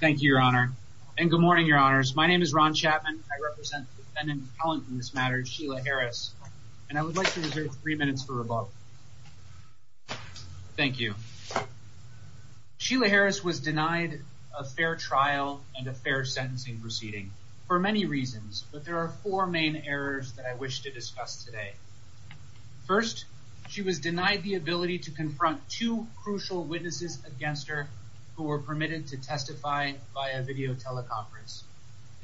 Thank you, Your Honor, and good morning, Your Honors. My name is Ron Chapman. I represent the defendant in this matter, Sheila Harris, and I would like to reserve three minutes for rebuttal. Thank you. Sheila Harris was denied a fair trial and a fair sentencing proceeding for many reasons, but there are four main errors that I wish to discuss today. First, she was denied the ability to confront two crucial witnesses against her who were permitted to testify via video teleconference,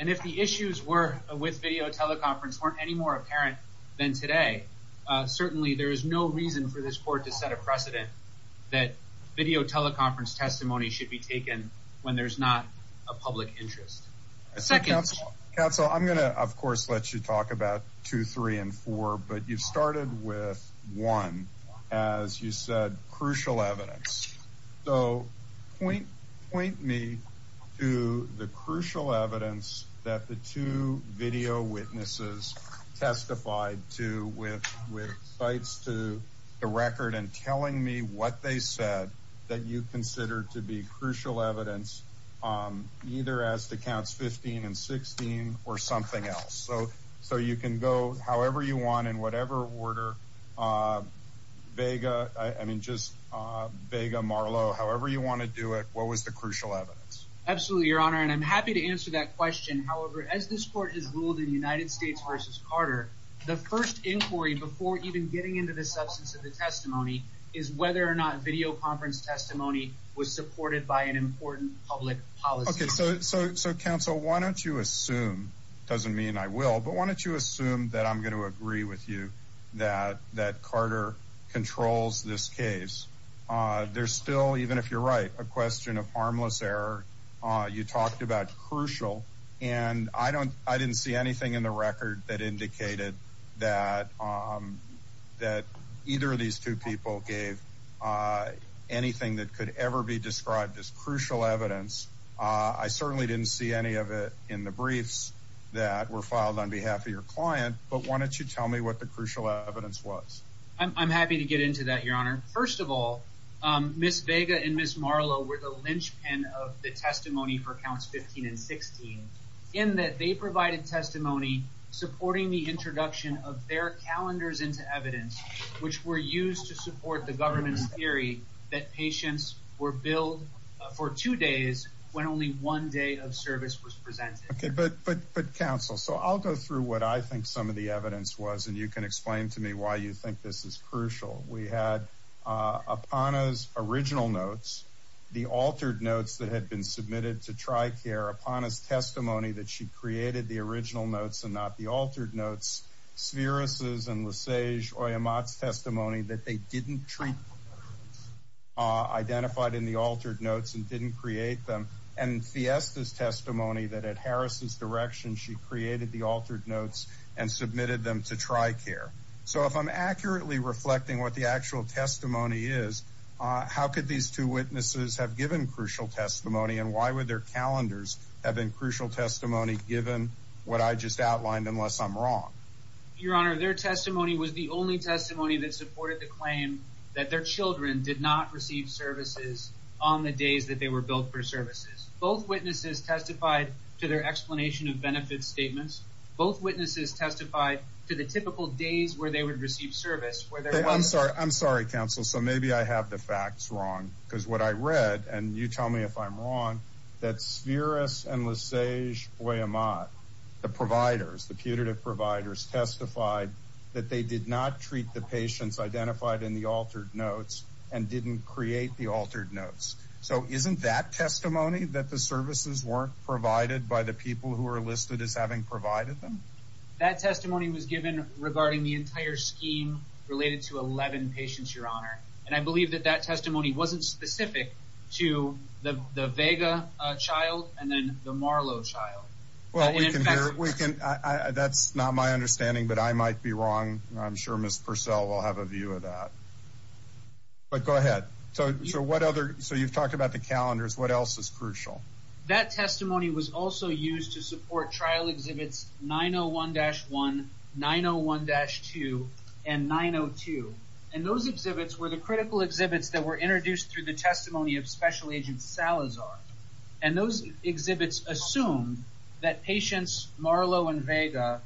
and if the issues were with video teleconference weren't any more apparent than today, certainly there is no reason for this court to set a precedent that video teleconference testimony should be taken when there's not a public interest. Second, counsel, I'm going to of course let you talk about two, three, and four, but you started with one as you said crucial evidence. So, point me to the crucial evidence that the two video witnesses testified to with cites to the record and telling me what they said that you consider to be crucial evidence either as to counts 15 and 16 or something else. So, you can go however you want in whatever order. Vega, I mean just Vega, Marlo, however you want to do it, what was the crucial evidence? Absolutely, your honor, and I'm happy to answer that question. However, as this court has ruled in United States versus Carter, the first inquiry before even getting into the substance of the public policy. Okay, so counsel, why don't you assume, doesn't mean I will, but why don't you assume that I'm going to agree with you that that Carter controls this case. There's still, even if you're right, a question of harmless error. You talked about crucial, and I don't, I didn't see anything in the record that indicated that either of these two people gave anything that could ever be described as crucial evidence. I certainly didn't see any of it in the briefs that were filed on behalf of your client, but why don't you tell me what the crucial evidence was? I'm happy to get into that, your honor. First of all, Ms. Vega and Ms. Marlo were the linchpin of the testimony for counts 15 and 16 in that they provided testimony supporting the introduction of their calendars into evidence, which were used to support the governance theory that patients were billed for two days when only one day of service was presented. Okay, but counsel, so I'll go through what I think some of the evidence was, and you can explain to me why you think this is crucial. We had Apana's original notes, the altered notes that had been submitted to TRICARE, Apana's testimony that she created the original notes and not the altered notes, Sviris's and Lesage-Oyamat's testimony that they didn't treat identified in the altered notes and didn't create them, and Fiesta's testimony that at Harris's direction she created the altered notes and submitted them to TRICARE. So if I'm accurately reflecting what the actual testimony is, how could these two witnesses have given crucial testimony and why would their calendars have been crucial testimony given what I just outlined unless I'm wrong? Your honor, their testimony was the only testimony that supported the claim that their children did not receive services on the days that they were billed for services. Both witnesses testified to their explanation of benefit statements. Both witnesses testified to the typical days where they would receive service. I'm sorry, counsel, so maybe I have the facts wrong because what I read, and you tell me if I'm wrong, that Sviris and Lesage-Oyamat, the providers, the putative providers, testified that they did not treat the patients identified in the altered notes and didn't create the altered notes. So isn't that testimony that the services weren't provided by the people who are listed as having provided them? That testimony was given regarding the entire scheme related to 11 patients, your honor, and I believe that that testimony wasn't specific to the Vega child and then the Marlowe child. That's not my understanding, but I might be wrong. I'm sure Ms. Purcell will have a view of that. But go ahead. So you've talked about the calendars. What else is crucial? That testimony was also used to support trial exhibits 901-1, 901-2, and 902. And those exhibits were the critical exhibits that were introduced through the testimony of Special Agent Salazar. And those exhibits assumed that patients Marlowe and Vega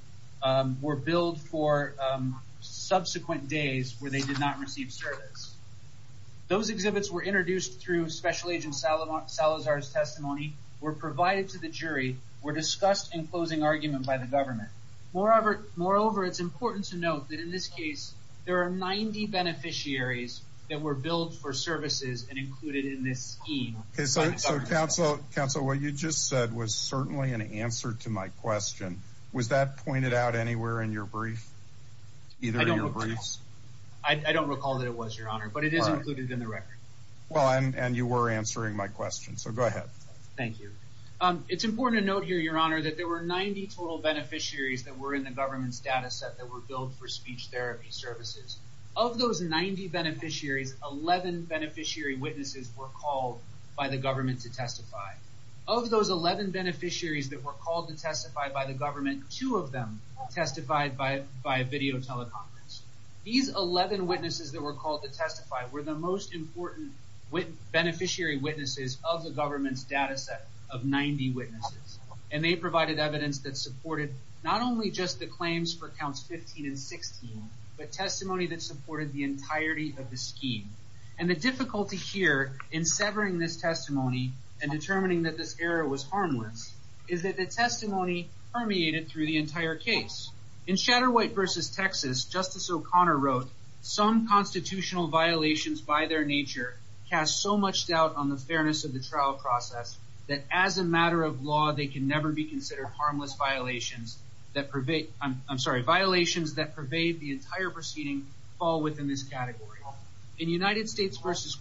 were billed for subsequent days where they did not receive service. Those exhibits were introduced through Special Agent Salazar's testimony, were provided to the jury, were discussed in closing argument by the government. Moreover, it's important to note that in this case, there are 90 beneficiaries that were billed for services and included in this scheme. Counsel, what you just said was certainly an answer to my question. Was that pointed out anywhere in your brief? Either of your briefs? I don't recall that it was, your honor, but it is included in the record. Well, and you were answering my question. So go ahead. Thank you. It's important to note here, your honor, that there were 90 total beneficiaries that were in the government's data set that were billed for speech therapy services. Of those 90 beneficiaries, 11 beneficiary witnesses were called by the government to testify. Of those 11 beneficiaries that were called to testify by the government, two of them testified by video teleconference. These 11 witnesses that were called to testify were the most important beneficiary witnesses of the government's data set of 90 witnesses. And they provided evidence that supported not only just the claims for counts 15 and 16, but testimony that supported the entirety of the scheme. And the difficulty here in severing this testimony and determining that this error was harmless, is that the testimony permeated through the entire case. In Shatterwhite versus Texas, Justice O'Connor wrote, some constitutional violations by their nature cast so much doubt on the fairness of the trial process that as a matter of law, they can never be considered harmless violations that pervade, I'm sorry, violations that pervade the entire proceeding fall within this category. In United States versus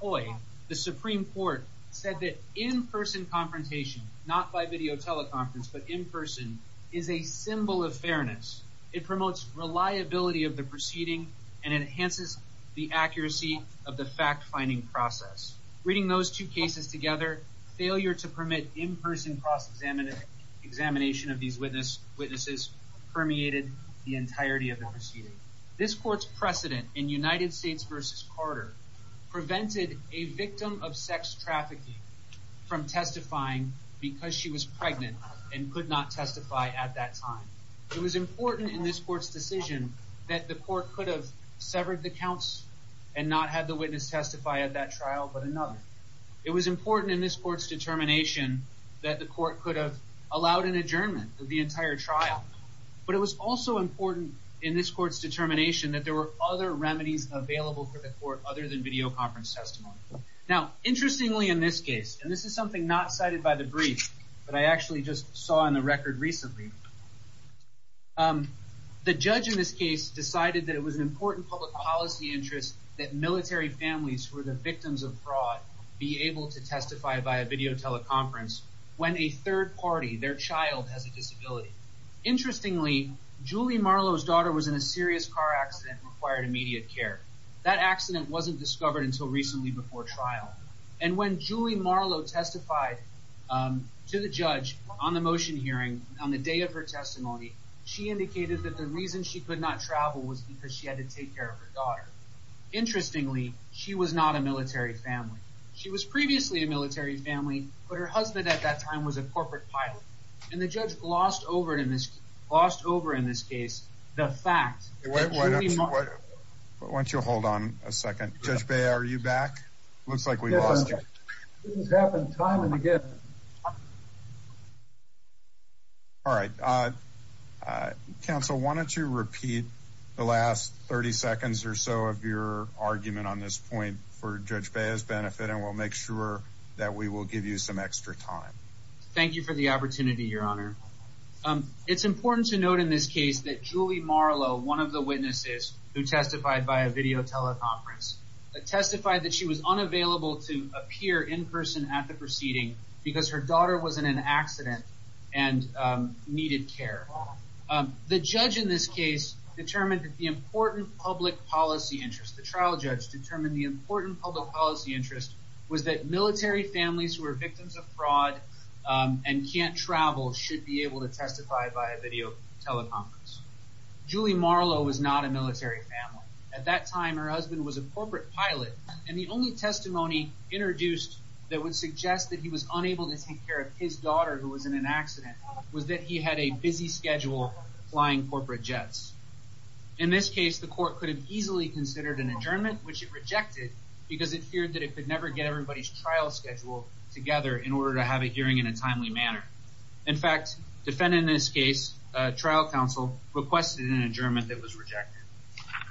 Coy, the Supreme Court said that in-person confrontation, not by video teleconference, but in person, is a symbol of fairness. It promotes reliability of the proceeding and enhances the accuracy of the fact-finding process. Reading those two cases together, failure to permit in-person cross-examination of these witnesses permeated the entirety of the proceeding. This court's precedent in United States versus Carter prevented a victim of sex trafficking from testifying because she was pregnant and could not testify at that time. It was important in this court's and not have the witness testify at that trial, but another. It was important in this court's determination that the court could have allowed an adjournment of the entire trial, but it was also important in this court's determination that there were other remedies available for the court other than video conference testimony. Now, interestingly in this case, and this is something not cited by the brief, but I actually just saw on the record recently, the judge in this case decided that it was an important public policy interest that military families who are the victims of fraud be able to testify via video teleconference when a third party, their child, has a disability. Interestingly, Julie Marlowe's daughter was in a serious car accident and required immediate care. That accident wasn't discovered until recently before trial, and when Julie Marlowe testified to the judge on the motion hearing on the day of her testimony, she indicated that the reason she could not travel was because she had to take care of her daughter. Interestingly, she was not a military family. She was previously a military family, but her husband at that time was a corporate pilot, and the judge glossed over in this case the fact that Julie Marlowe... Why don't you hold on a second? Judge Bayer, are you back? Looks like we lost you. This has happened time and again. All right. Counsel, why don't you repeat the last 30 seconds or so of your argument on this point for Judge Bayer's benefit, and we'll make sure that we will give you some extra time. Thank you for the opportunity, Your Honor. It's important to note in this case that Julie Marlowe, one of the witnesses who testified via video teleconference, testified that she was unavailable to appear in person at the proceeding because her daughter was in an accident and needed care. The judge in this case determined that the important public policy interest, the trial judge determined the important public policy interest was that military families who are victims of fraud and can't travel should be able to testify via video teleconference. Julie Marlowe was not a military family. At that time, her husband was a corporate pilot, and the only testimony introduced that would suggest that he was unable to take care of his daughter who was in an accident was that he had a busy schedule flying corporate jets. In this case, the court could have easily considered an adjournment, which it rejected because it feared that it could never get everybody's trial schedule together in order to have a hearing in a timely manner. In fact, defendant in this case, trial counsel, requested an adjournment that was rejected.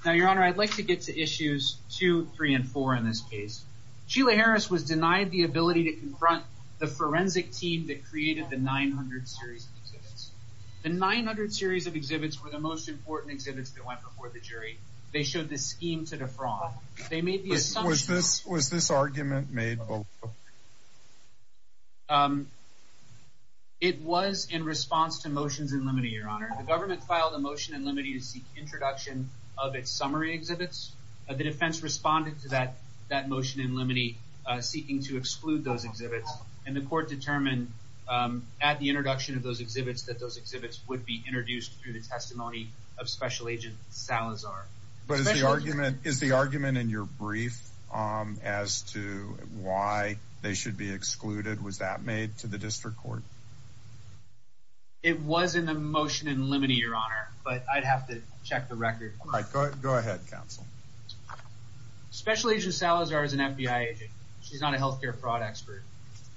Now, Your Honor, I'd like to get to issues two, three, and four in this case. Sheila Harris was denied the ability to confront the forensic team that created the 900 series of exhibits. The 900 series of exhibits were the most important exhibits that went before the jury. They showed the scheme to defraud. They made the assumption... Was this argument made? It was in response to motions in limine, Your Honor. The government filed a motion in limine to seek introduction of its summary exhibits. The defense responded to that motion in limine seeking to exclude those exhibits, and the court determined at the introduction of those exhibits that those exhibits would be introduced through the testimony of Special Agent Salazar. Is the argument in your brief as to why they should be excluded, was that made to the district court? It was in the motion in limine, Your Honor, but I'd have to check the record. All right, go ahead, counsel. Special Agent Salazar is an FBI agent. She's not a healthcare fraud expert,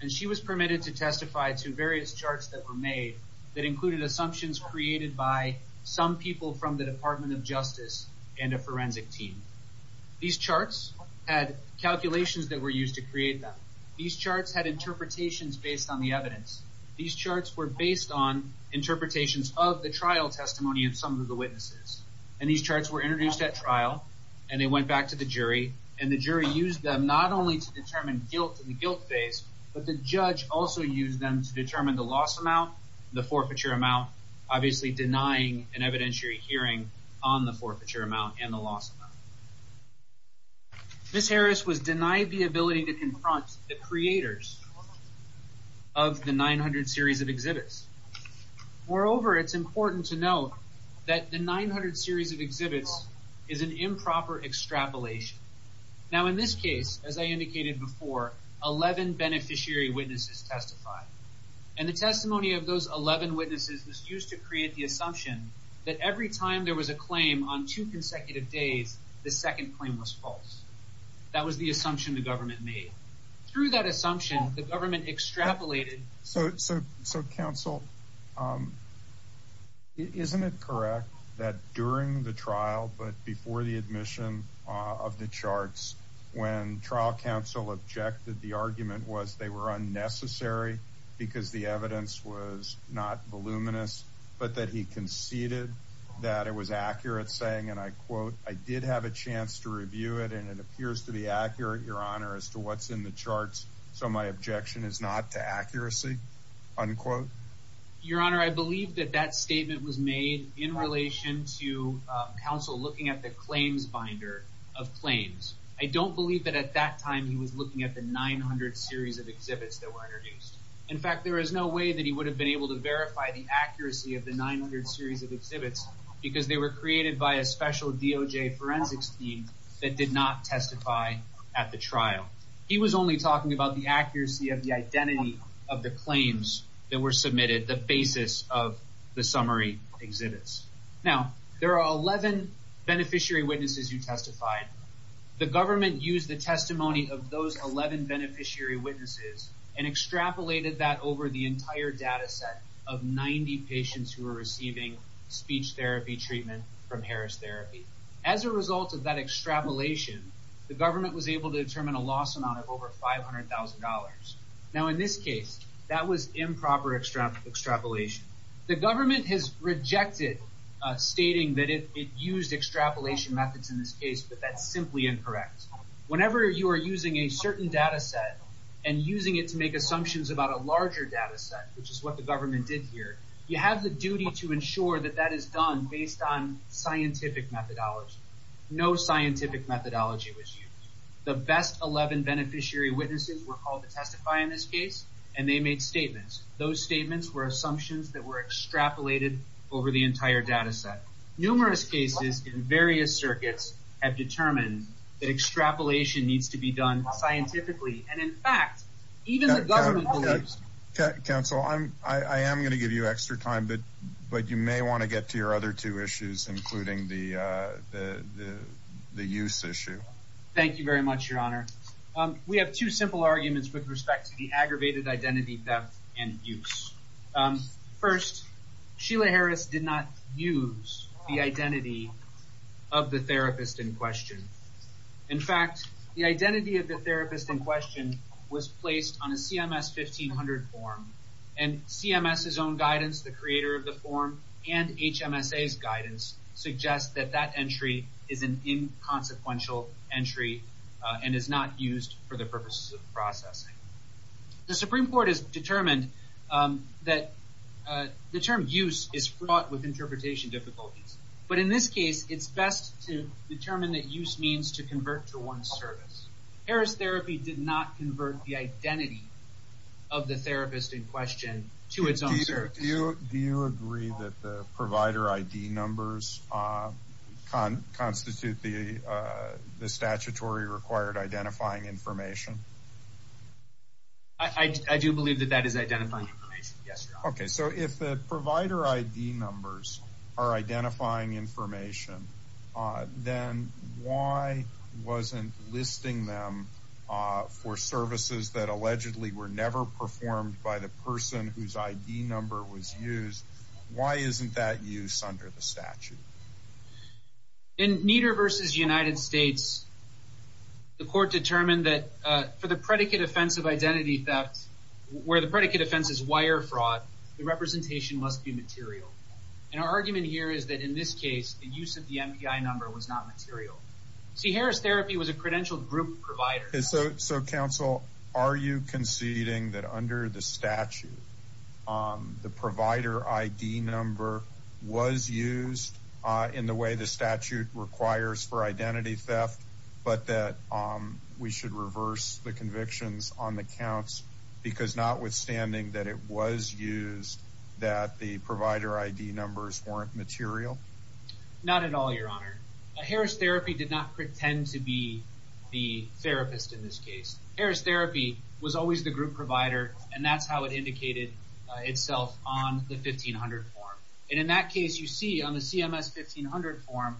and she was permitted to testify to various charts that were made that included assumptions created by some people from the Department of Justice and a forensic team. These charts had calculations that were used to create them. These charts had interpretations based on the evidence. These charts were based on interpretations of the trial testimony of some of the witnesses, and these charts were introduced at trial, and they went back to the jury, and the jury used them not only to determine guilt in the guilt phase, but the judge also used them to determine the loss amount, the forfeiture amount, obviously denying an evidentiary hearing on the forfeiture amount and the loss amount. Ms. Harris was denied the ability to confront the creators of the 900 series of exhibits. Moreover, it's important to note that the 900 series of exhibits is an improper extrapolation. Now, in this case, as I indicated before, 11 beneficiary witnesses testified, and the testimony of those 11 witnesses was used to create the assumption that every time there was a claim on two consecutive days, the second claim was false. That was the assumption the government made. Through that assumption, the government extrapolated. So, counsel, isn't it correct that during the trial, but before the admission of the charts, when trial counsel objected, the argument was they were unnecessary because the evidence was not voluminous, but that he conceded that it was accurate, saying, and I quote, I did have a chance to review it, and it appears to be accurate, your honor, as to what's in the charts. So, my objection is not to accuracy, unquote. Your honor, I believe that that statement was made in relation to counsel looking at the claims binder of claims. I don't believe that at that time he was looking at the 900 series of exhibits that were introduced. In fact, there is no way that he would have been able to verify the accuracy of the 900 series of exhibits because they were created by a special DOJ forensics team that did not testify at the trial. He was only talking about the accuracy of the identity of the claims that were submitted, the basis of the summary exhibits. Now, there are 11 beneficiary witnesses who testified. The government used the testimony of those 11 beneficiary witnesses and extrapolated that over the entire data set of 90 patients who were receiving speech therapy treatment from Harris Therapy. As a result of that extrapolation, the government was able to determine a loss amount of over $500,000. Now, in this case, that was improper extrapolation. The government has rejected stating that it used extrapolation methods in this case, but that's simply incorrect. Whenever you are using a certain data set and using it to make assumptions about a larger data set, which is what the government did here, you have the duty to ensure that that is done based on scientific methodology. No scientific methodology was used. The best 11 beneficiary witnesses were called to testify in this case, and they made statements. Those statements were assumptions that were extrapolated over the entire data set. Numerous cases in various circuits have determined that extrapolation needs to be done scientifically, and in fact, even the government Council, I am going to give you extra time, but you may want to get to your other two issues, including the use issue. Thank you very much, Your Honor. We have two simple arguments with respect to the aggravated identity theft and abuse. First, Sheila Harris did not use the identity of the therapist in question. In fact, the identity of the therapist in question was placed on a CMS 1500 form, and CMS's own guidance, the creator of the form, and HMSA's guidance suggest that that entry is an inconsequential entry and is not used for the purposes of processing. The Supreme Court has determined that the term use is fraught with interpretation difficulties, but in this case, it's best to determine that use means to convert to one service. Harris Therapy did not convert the identity of the therapist in question to its own service. Do you agree that the provider ID numbers constitute the statutory required identifying information? I do believe that that is identifying information, yes, Your Honor. So if the provider ID numbers are identifying information, then why wasn't listing them for services that allegedly were never performed by the person whose ID number was used, why isn't that use under the statute? In Nieder v. United States, the court determined that for the predicate offense of identity theft, where the predicate offense is wire fraud, the representation must be material, and our argument here is that in this case, the use of the MPI number was not material. See, Harris Therapy was a credentialed group provider. So counsel, are you conceding that under the statute, the provider ID number was used in the way the statute requires for identity theft, but that we should reverse the convictions on the counts because notwithstanding that it was used, that the provider ID numbers weren't material? Not at all, Your Honor. Harris Therapy did not pretend to be the therapist in this case. Harris Therapy was always the group provider, and that's how it indicated itself on the 1500 form. And in that case, you see on the CMS 1500 form,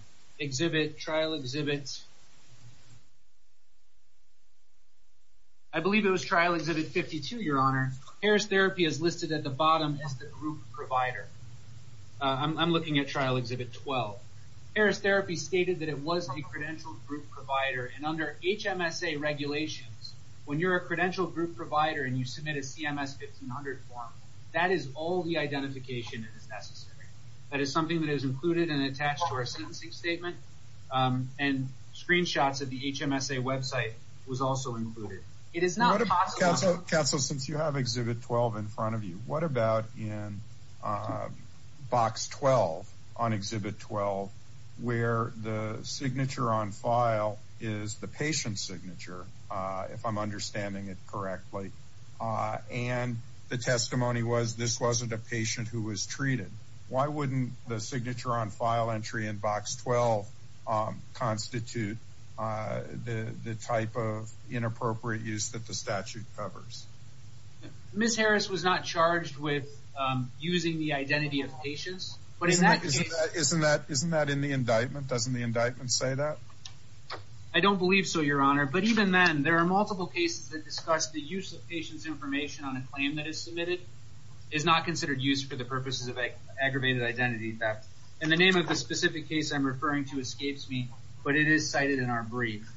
I believe it was trial exhibit 52, Your Honor, Harris Therapy is listed at the bottom as the group provider. I'm looking at trial exhibit 12. Harris Therapy stated that it was a credentialed group provider, and under HMSA regulations, when you're a credentialed group provider and you submit a CMS 1500 form, that is all the identification that is necessary. That is something that is included and attached to our sentencing statement, and screenshots of the HMSA website was also included. It is not possible. Counsel, since you have exhibit 12 in front of you, what about in box 12 on exhibit 12 where the signature on file is the patient's signature, if I'm understanding it correctly, and the testimony was this wasn't a patient who was treated, why wouldn't the signature on file entry in box 12 constitute the type of inappropriate use that the statute covers? Ms. Harris was not charged with using the identity of patients, but in that case, isn't that in the indictment? Doesn't the indictment say that? I don't believe so, Your Honor, but even then, there are multiple cases that discuss the use of patient's information on a claim that is submitted is not considered use for the purposes of aggravated identity theft. In the name of the specific case I'm referring to escapes me, but it is cited in our brief.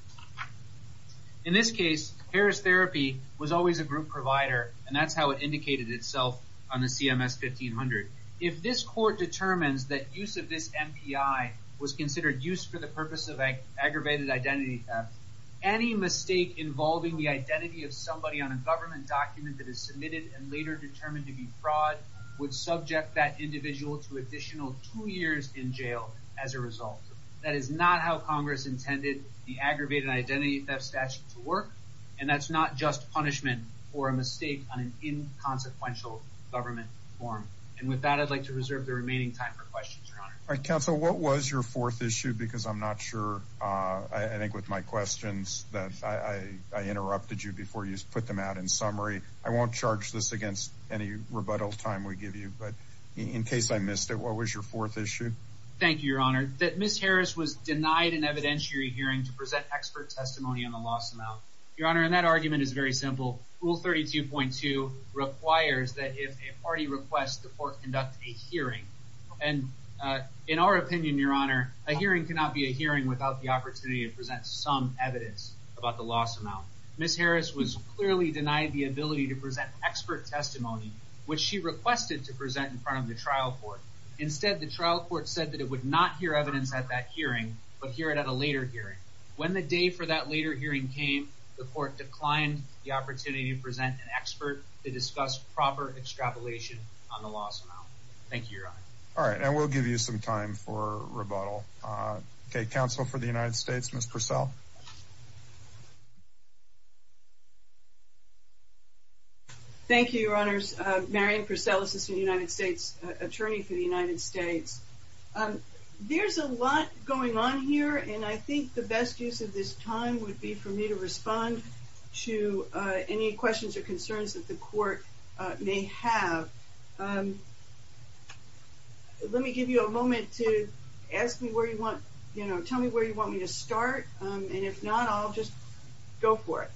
In this case, Harris Therapy was always a group provider, and that's how it indicated itself on the CMS 1500. If this court determines that use of this MPI was considered use for the purpose of aggravated identity theft, any mistake involving the identity of somebody on a government document that is submitted and later determined to be fraud would subject that individual to additional two years in jail as a result. That is not how Congress intended the aggravated identity theft statute to work, and that's not just punishment for a mistake on an inconsequential government form. And with that, I'd like to reserve the remaining time for questions, Your Honor. All right, counsel, what was your fourth issue? Because I'm not sure, I think with my questions that I interrupted you before you put them out in summary. I won't charge this against any rebuttal time we give you, but in case I missed it, what was your fourth issue? Thank you, Your Honor. That Ms. Harris was denied an evidentiary hearing to present expert testimony on the loss amount. Your Honor, and that argument is very simple. Rule 32.2 requires that if a party requests the court conduct a hearing, and in our opinion, Your Honor, a hearing cannot be a hearing without the opportunity to present some evidence about the loss amount. Ms. Harris was clearly denied the ability to present expert testimony, which she requested to present in front of the trial court. Instead, the trial court said that it would not hear evidence at that hearing, but hear it at a later hearing. When the day for that later hearing came, the court declined the opportunity to present an expert to discuss proper extrapolation on the loss amount. Thank you, Your Honor. All right, I will give you some time for rebuttal. Okay, counsel for the United States, Ms. Purcell. Thank you, Your Honors. Marian Purcell, Assistant United States Attorney for the United States. There's a lot going on here, and I think the best use of this time would be for me to respond to any questions or concerns that the court may have. Let me give you a moment to ask me where you want, you know, tell me where you want me to start, and if not, I'll just go for it.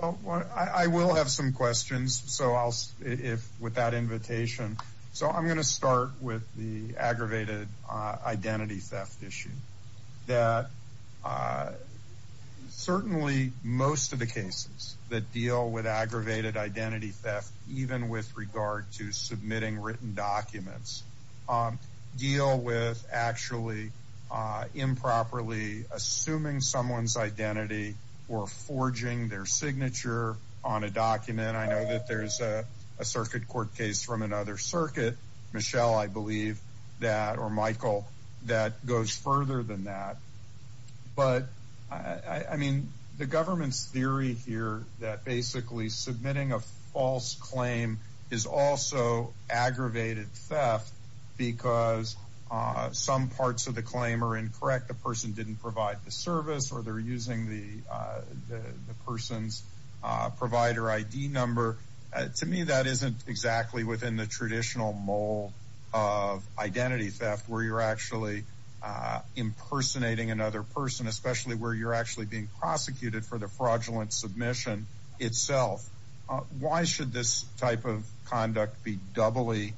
Well, I will have some questions, so I'll, if with that invitation, so I'm going to start with the aggravated identity theft issue that certainly most of the cases that deal with aggravated identity theft, even with regard to submitting written documents, deal with actually improperly assuming someone's identity or forging their signature on a document. I know that there's a circuit court case from another circuit, Michelle, I believe that, or Michael, that goes further than that, but I mean, the aggravated theft because some parts of the claim are incorrect, the person didn't provide the service, or they're using the person's provider ID number. To me, that isn't exactly within the traditional mold of identity theft, where you're actually impersonating another person, especially where you're actually being prosecuted for the fraudulent submission itself. Why should this type of conduct be doubly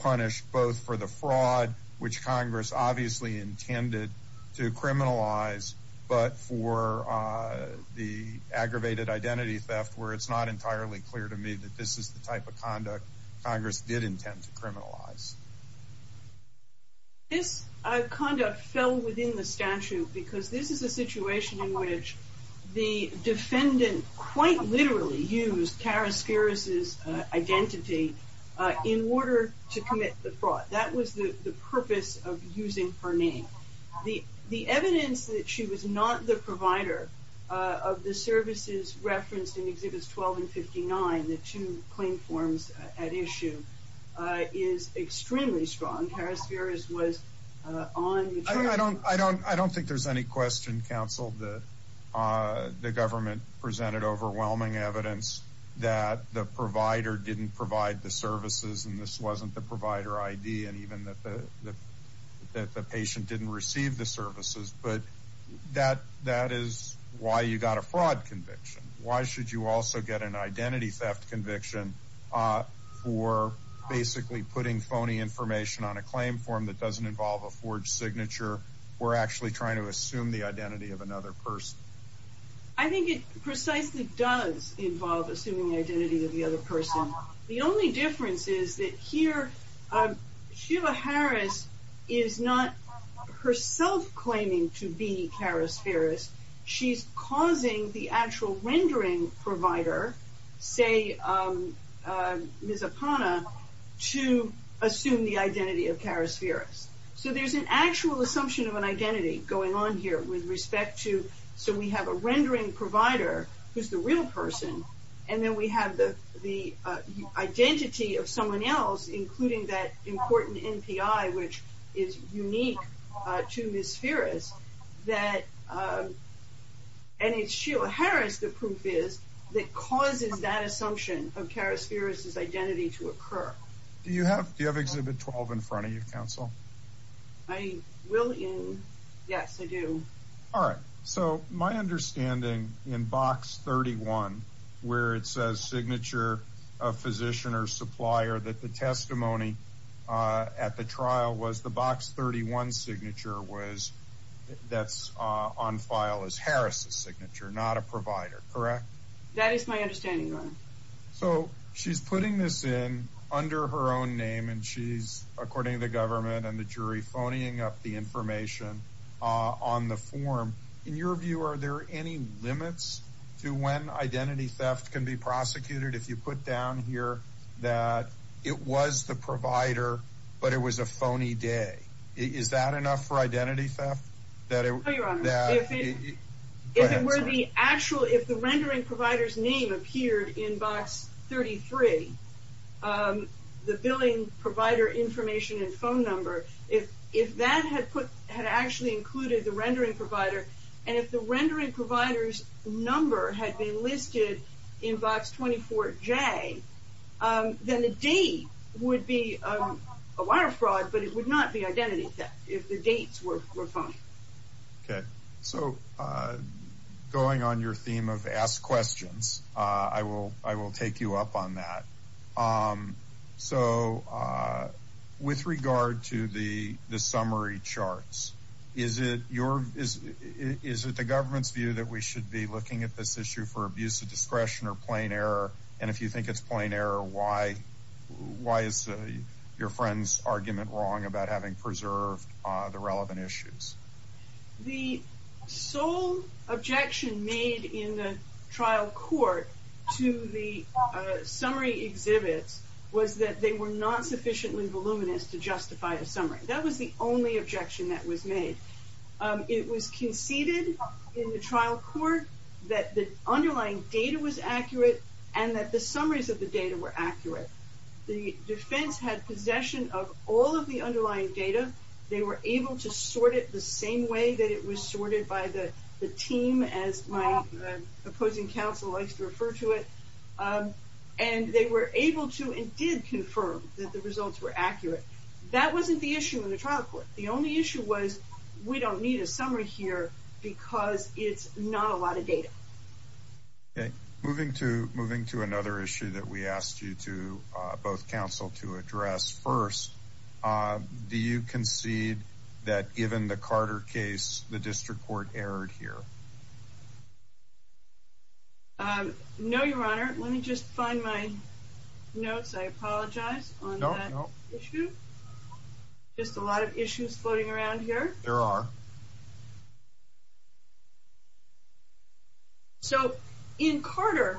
punished both for the fraud, which Congress obviously intended to criminalize, but for the aggravated identity theft, where it's not entirely clear to me that this is the type of conduct Congress did intend to criminalize? This conduct fell within the statute because this is a situation in which the defendant quite literally used Karasferis' identity in order to commit the fraud. That was the purpose of using her name. The evidence that she was not the provider of the services referenced in Exhibits 12 and 59, the two claim forms at issue, is extremely strong. Karasferis was on... I don't think there's any question, counsel, that the government presented overwhelming evidence that the provider didn't provide the services, and this wasn't the provider ID, and even that the patient didn't receive the services, but that is why you got a fraud conviction. Why should you also get an identity theft conviction for basically putting phony information on a claim form that doesn't involve a forged signature, or actually trying to assume the identity of another person? I think it precisely does involve assuming the identity of the other person. The only difference is that here, Sheila Harris is not herself claiming to be Karasferis. So there's an actual assumption of an identity going on here with respect to, so we have a rendering provider who's the real person, and then we have the identity of someone else, including that important NPI, which is unique to Ms. Ferris, and it's Sheila Harris, the proof is, that causes that assumption of Karasferis' identity to occur. Do you have Exhibit 12 in front of you, counsel? I will, yes, I do. All right, so my understanding in Box 31, where it says signature of physician or supplier, that the testimony at the trial was the Box 31 signature was, that's on file as Harris's signature, not a provider, correct? That is my understanding, so she's putting this in under her own name, and she's, according to the government and the jury, phoning up the information on the form. In your view, are there any limits to when identity theft can be prosecuted? If you put down here that it was the provider, but it was a phony day, is that enough for identity theft? No, your honor, if it were the actual, if the rendering provider's in Box 33, the billing provider information and phone number, if that had put, had actually included the rendering provider, and if the rendering provider's number had been listed in Box 24J, then the date would be a wire fraud, but it would not be identity theft, if the dates were fine. Okay, so going on your theme of ask questions, I will take you up on that. So with regard to the summary charts, is it your, is it the government's view that we should be looking at this issue for abuse of discretion or plain error, and if you think it's plain error, why is your friend's argument wrong about having preserved the relevant issues? The sole objection made in the trial court to the summary exhibits was that they were not sufficiently voluminous to justify a summary. That was the only objection that was made. It was conceded in the trial court that the underlying data was accurate and that the results were accurate. The defense had possession of all of the underlying data. They were able to sort it the same way that it was sorted by the team, as my opposing counsel likes to refer to it, and they were able to and did confirm that the results were accurate. That wasn't the issue in the trial court. The only issue was we don't need a summary here because it's not a lot of data. Okay, moving to another issue that we asked you to, both counsel, to address. First, do you concede that given the Carter case, the district court erred here? No, your honor. Let me just find my notes. I apologize on that issue. Just a lot of issues floating around here. There are. So in Carter,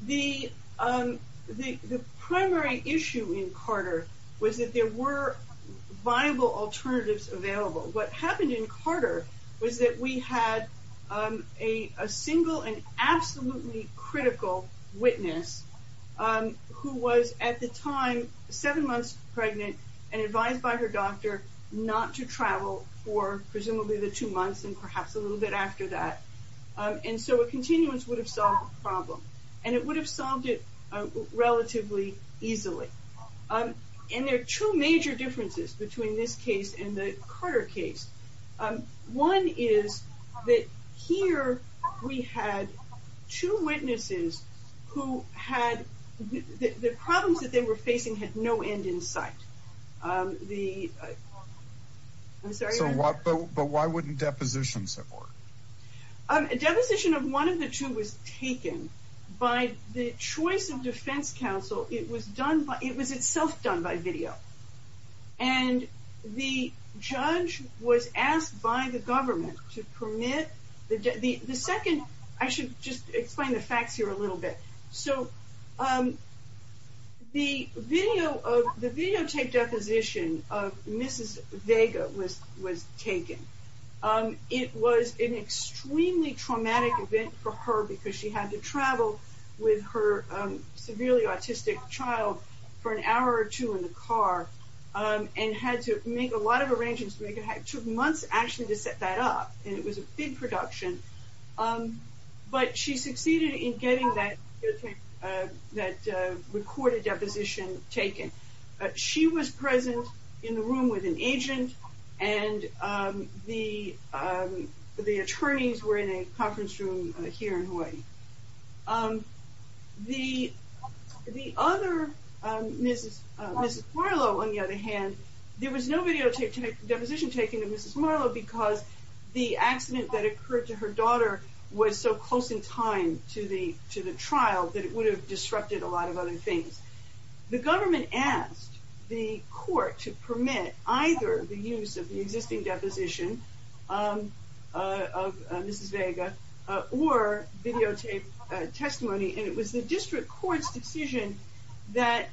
the primary issue in Carter was that there were viable alternatives available. What happened in Carter was that we had a single and absolutely critical witness who was at the time seven months pregnant and advised by her doctor not to travel for presumably the two months and perhaps a little bit after that. And so a continuance would have solved the problem and it would have solved it relatively easily. And there are two major differences between this case and the Carter case. One is that here we had two witnesses who had, the problems that they were facing had no end in sight. But why wouldn't depositions have worked? A deposition of one of the two was taken by the choice of defense counsel. It was done by, it was itself done by video. And the judge was asked by the government to permit the, the second, I should just explain the facts here a little bit. So the video of, the videotape deposition of Mrs. Vega was, was taken. It was an extremely traumatic event for her because she had to travel with her severely autistic child for an hour or two in the car and had to make a lot of arrangements to make it, took months actually to set that up. And it was a big production. But she succeeded in getting that, that recorded deposition taken. She was present in the room with an agent and the, the attorneys were in a conference room here in Hawaii. The, the other, Mrs., Mrs. Marlowe on the other hand, there was no videotape deposition taken of Mrs. Marlowe because the accident that occurred to her daughter was so close in time to the, to the trial that it would have disrupted a lot of other things. The government asked the court to permit either the use of the existing deposition of Mrs. Vega or videotape testimony. And it was the district court's decision that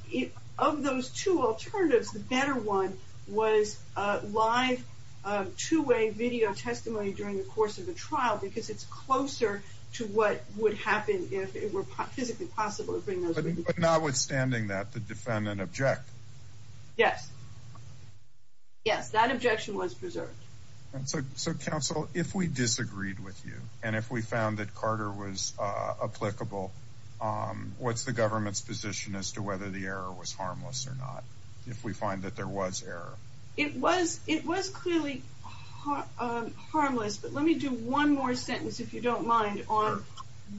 of those two alternatives, the better one was live two-way video testimony during the course of the trial because it's closer to what would happen if it were physically possible to bring those videos. But notwithstanding that, the defendant object? Yes. Yes. That objection was preserved. And so, so counsel, if we disagreed with you and if we found that Carter was applicable, what's the government's position as to whether the error was harmless or not, if we find that there was error? It was, it was clearly harmless, but let me do one more sentence, if you don't mind, on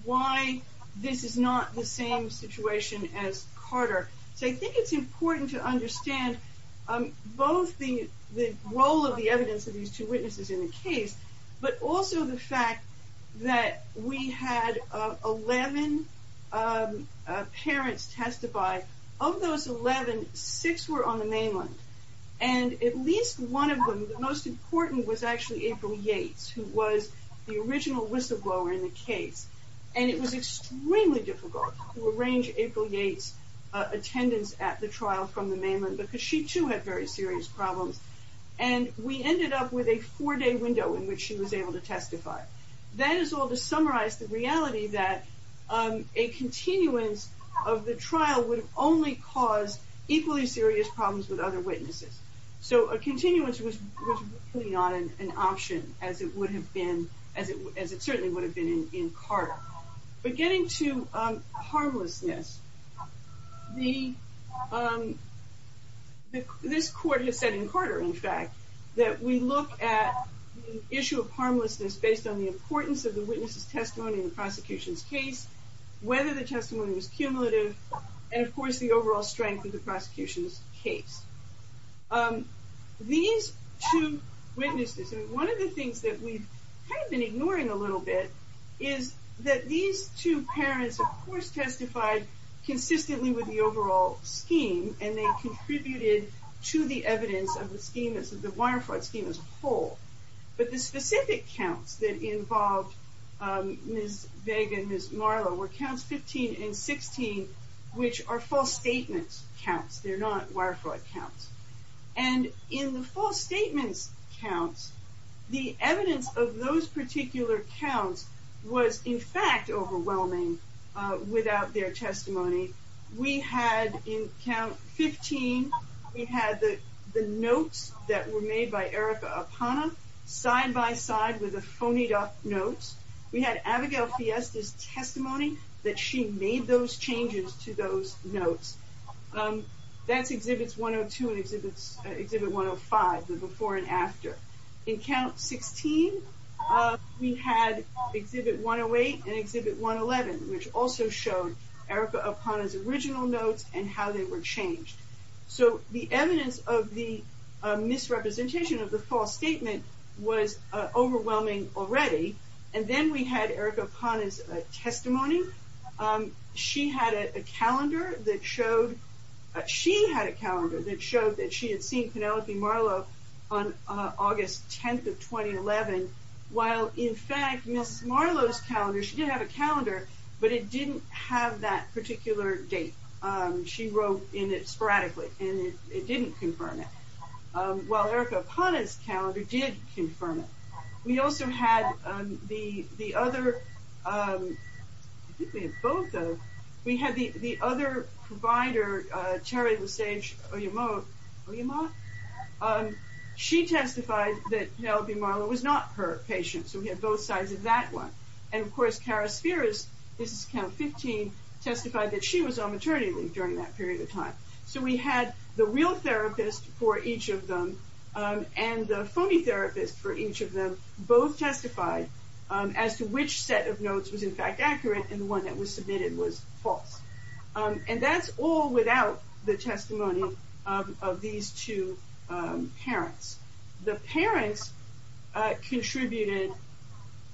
why this is not the same situation as Carter. So I think it's important to understand both the, the role of the evidence of these two witnesses in the case, but also the two parents testify. Of those 11, six were on the mainland. And at least one of them, the most important, was actually April Yates, who was the original whistleblower in the case. And it was extremely difficult to arrange April Yates' attendance at the trial from the mainland because she too had very serious problems. And we ended up with a four-day window in which she was a continuance of the trial would only cause equally serious problems with other witnesses. So a continuance was not an option as it would have been, as it certainly would have been in Carter. But getting to harmlessness, the, this court has said in Carter, in fact, that we look at the issue of harmlessness based on the importance of the witness's testimony in the whether the testimony was cumulative, and of course, the overall strength of the prosecution's case. These two witnesses, and one of the things that we've kind of been ignoring a little bit, is that these two parents, of course, testified consistently with the overall scheme, and they contributed to the evidence of the scheme as the wire fraud scheme as a whole. But the specific counts that involved Ms. Vega and Ms. Marlow were counts 15 and 16, which are false statements counts. They're not wire fraud counts. And in the false statements counts, the evidence of those particular counts was, in fact, overwhelming without their testimony. We had in count 15, we had the notes that were made by Erica Apana side by side with the phonied up notes. We had Abigail Fiesta's testimony that she made those changes to those notes. That's exhibits 102 and exhibit 105, the before and after. In count 16, we had exhibit 108 and exhibit 111, which also showed Erica Apana's original notes and how they were changed. So the evidence of the misrepresentation of the false statement was overwhelming already. And then we had Erica Apana's testimony. She had a calendar that showed, she had a calendar that showed that she had seen Penelope Marlow on August 10th of 2011, while in fact Ms. Marlow's calendar, she did have a calendar, but it didn't have that particular date. She wrote in it sporadically, and it didn't confirm it. While Erica Apana's calendar did confirm it. We also had the other, I think we have both of them, we had the other provider, Terry Lesage-Oyemah, she testified that Penelope Marlow was not her patient. So we had both sides of that one. And of course Kara Spheres, this is count 15, testified that she was on maternity leave during that period of time. So we had the real therapist for each of them, and the phony therapist for each of them, both testified as to which set of notes was in fact accurate, and the one that was submitted was false. And that's all without the testimony of these two parents. The parents contributed,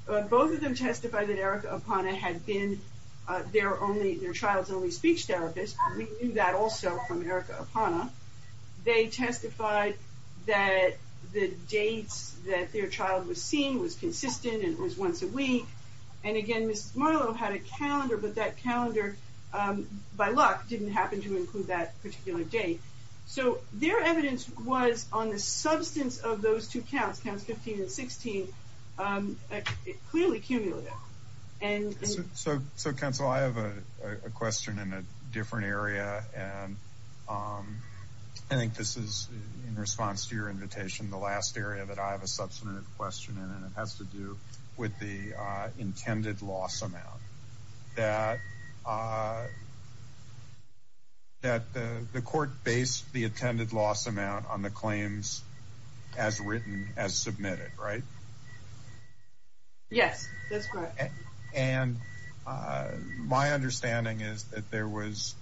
both of them testified that Erica Apana had been their only, their child's only speech therapist. We knew that also from Erica Apana. They testified that the dates that their child was seen was consistent, and it was once a week. And again, Ms. Marlow had a calendar, but that calendar, by luck, didn't happen to include that particular date. So their evidence was on the substance of those two counts, counts 15 and 16, clearly cumulative. So counsel, I have a question in a different area, and I think this is, in response to your invitation, the last area that I have a substantive question in, and it has to do with the intended loss amount, that the court based the intended loss amount on the claims as written, as submitted, right? Yes, that's correct. And my understanding is that there was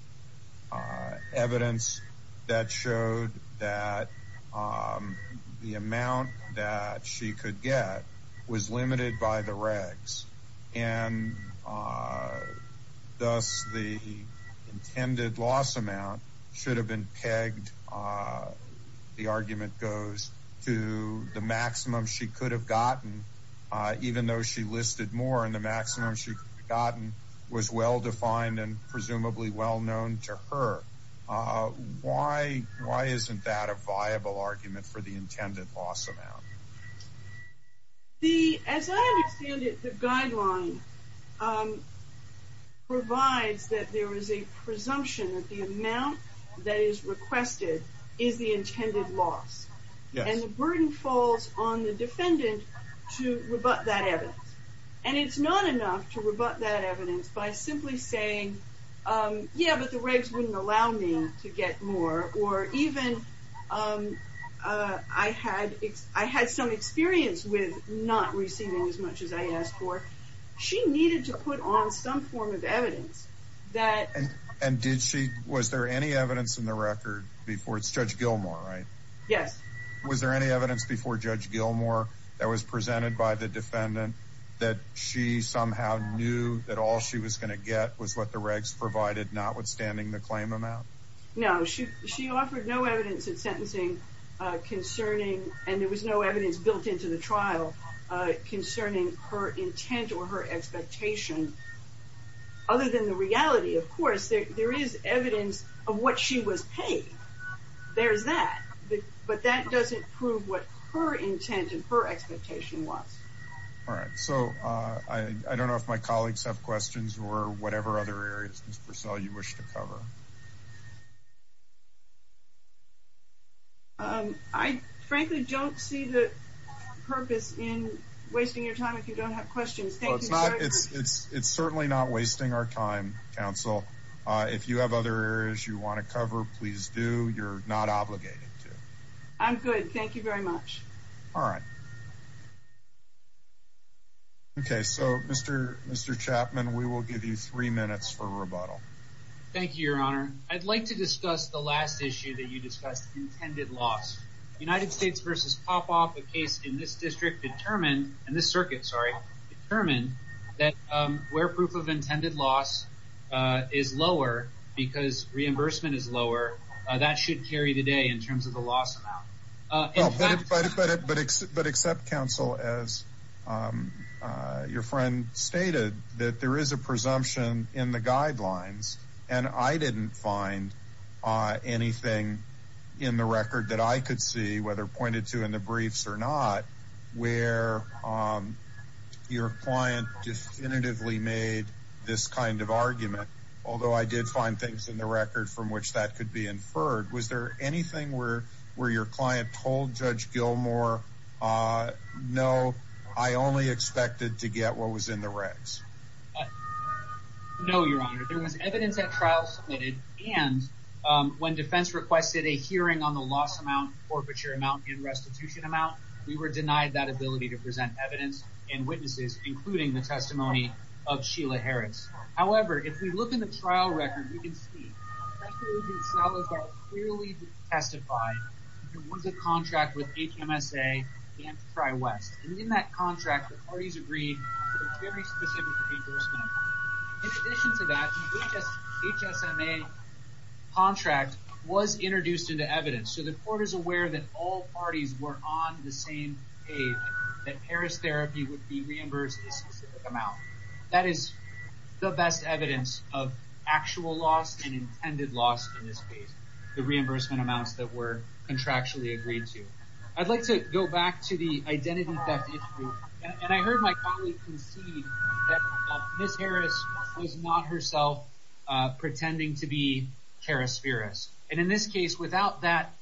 evidence that showed that the amount that she could get was limited by the regs, and thus the intended loss amount should have been pegged, the argument goes, to the maximum she could have gotten, even though she listed more, and the maximum she could have gotten was well-defined and presumably well-known to her. Why isn't that a viable argument for the intended loss amount? As I understand it, the guideline provides that there is a presumption that the amount that is requested is the intended loss, and the burden falls on the defendant to rebut that evidence by simply saying, yeah, but the regs wouldn't allow me to get more, or even I had some experience with not receiving as much as I asked for. She needed to put on some form of evidence that... And did she, was there any evidence in the record before, it's Judge Gilmore, right? Yes. Was there any evidence before Judge Gilmore that was presented by the defendant that she somehow knew that all she was going to get was what the regs provided, notwithstanding the claim amount? No, she offered no evidence in sentencing concerning, and there was no evidence built into the trial, concerning her intent or her expectation. Other than the reality, of course, there is evidence of what she was paid. There's that, but that doesn't prove what her intent and expectation was. All right, so I don't know if my colleagues have questions or whatever other areas, Ms. Purcell, you wish to cover. I frankly don't see the purpose in wasting your time if you don't have questions. Thank you. It's certainly not wasting our time, counsel. If you have other areas you want to cover, please do. You're not obligated to. I'm good, thank you very much. All right. Okay, so Mr. Chapman, we will give you three minutes for rebuttal. Thank you, Your Honor. I'd like to discuss the last issue that you discussed, intended loss. United States v. Popoff, a case in this district determined, in this circuit, sorry, determined that where proof of intended loss is lower because reimbursement is lower, that should carry the day in terms of the loss amount. But except, counsel, as your friend stated, that there is a presumption in the guidelines, and I didn't find anything in the record that I could see, whether pointed to in the briefs or not, where your client definitively made this kind of argument, although I did find things in the record from which that could be inferred. Was there anything where your client told Judge Gilmour, no, I only expected to get what was in the regs? No, Your Honor. There was evidence at trial submitted, and when defense requested a hearing on the loss amount, forfeiture amount, and restitution amount, we were denied that ability to present evidence and witnesses, including the testimony of Sheila Harris. However, if we look in the trial record, you can see that Judge Gonzalez clearly testified that there was a contract with HMSA and TriWest, and in that contract, the parties agreed to a very specific reimbursement. In addition to that, HSMA contract was introduced into evidence, so the court is aware that all parties were on the same page, that Harris therapy would be reimbursed a specific amount. That is the best evidence of actual loss and intended loss in this case, the reimbursement amounts that were contractually agreed to. I'd like to go back to the identity theft issue, and I heard my colleague concede that Ms. Harris was not herself pretending to be Karas-Firas, and in this case, without that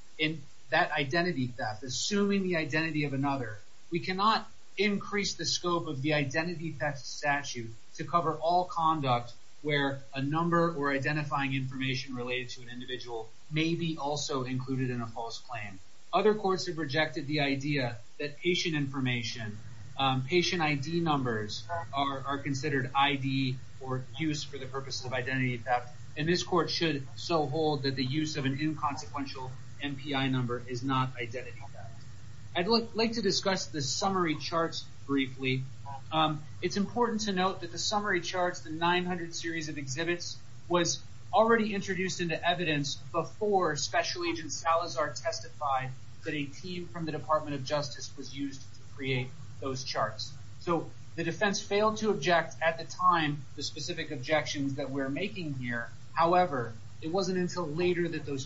identity theft, assuming the identity of another, we cannot increase the scope of the identity theft statute to cover all conduct where a number or identifying information related to an individual may be also included in a false claim. Other courts have rejected the idea that patient information, patient ID numbers, are considered ID or use for the purpose of identity theft, and this court should so hold that the use of an inconsequential MPI number is not identity theft. I'd like to discuss the summary charts briefly. It's important to note that the summary charts, the 900 series of exhibits, was already introduced into evidence before Special Agent Salazar testified that a team from the Department of Justice was used to create those charts. So the defense failed to object at the time the specific objections that we're making here. However, it wasn't until later that those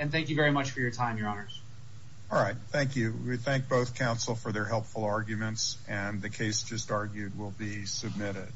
and thank you very much for your time, your honors. All right, thank you. We thank both counsel for their helpful arguments, and the case just argued will be submitted.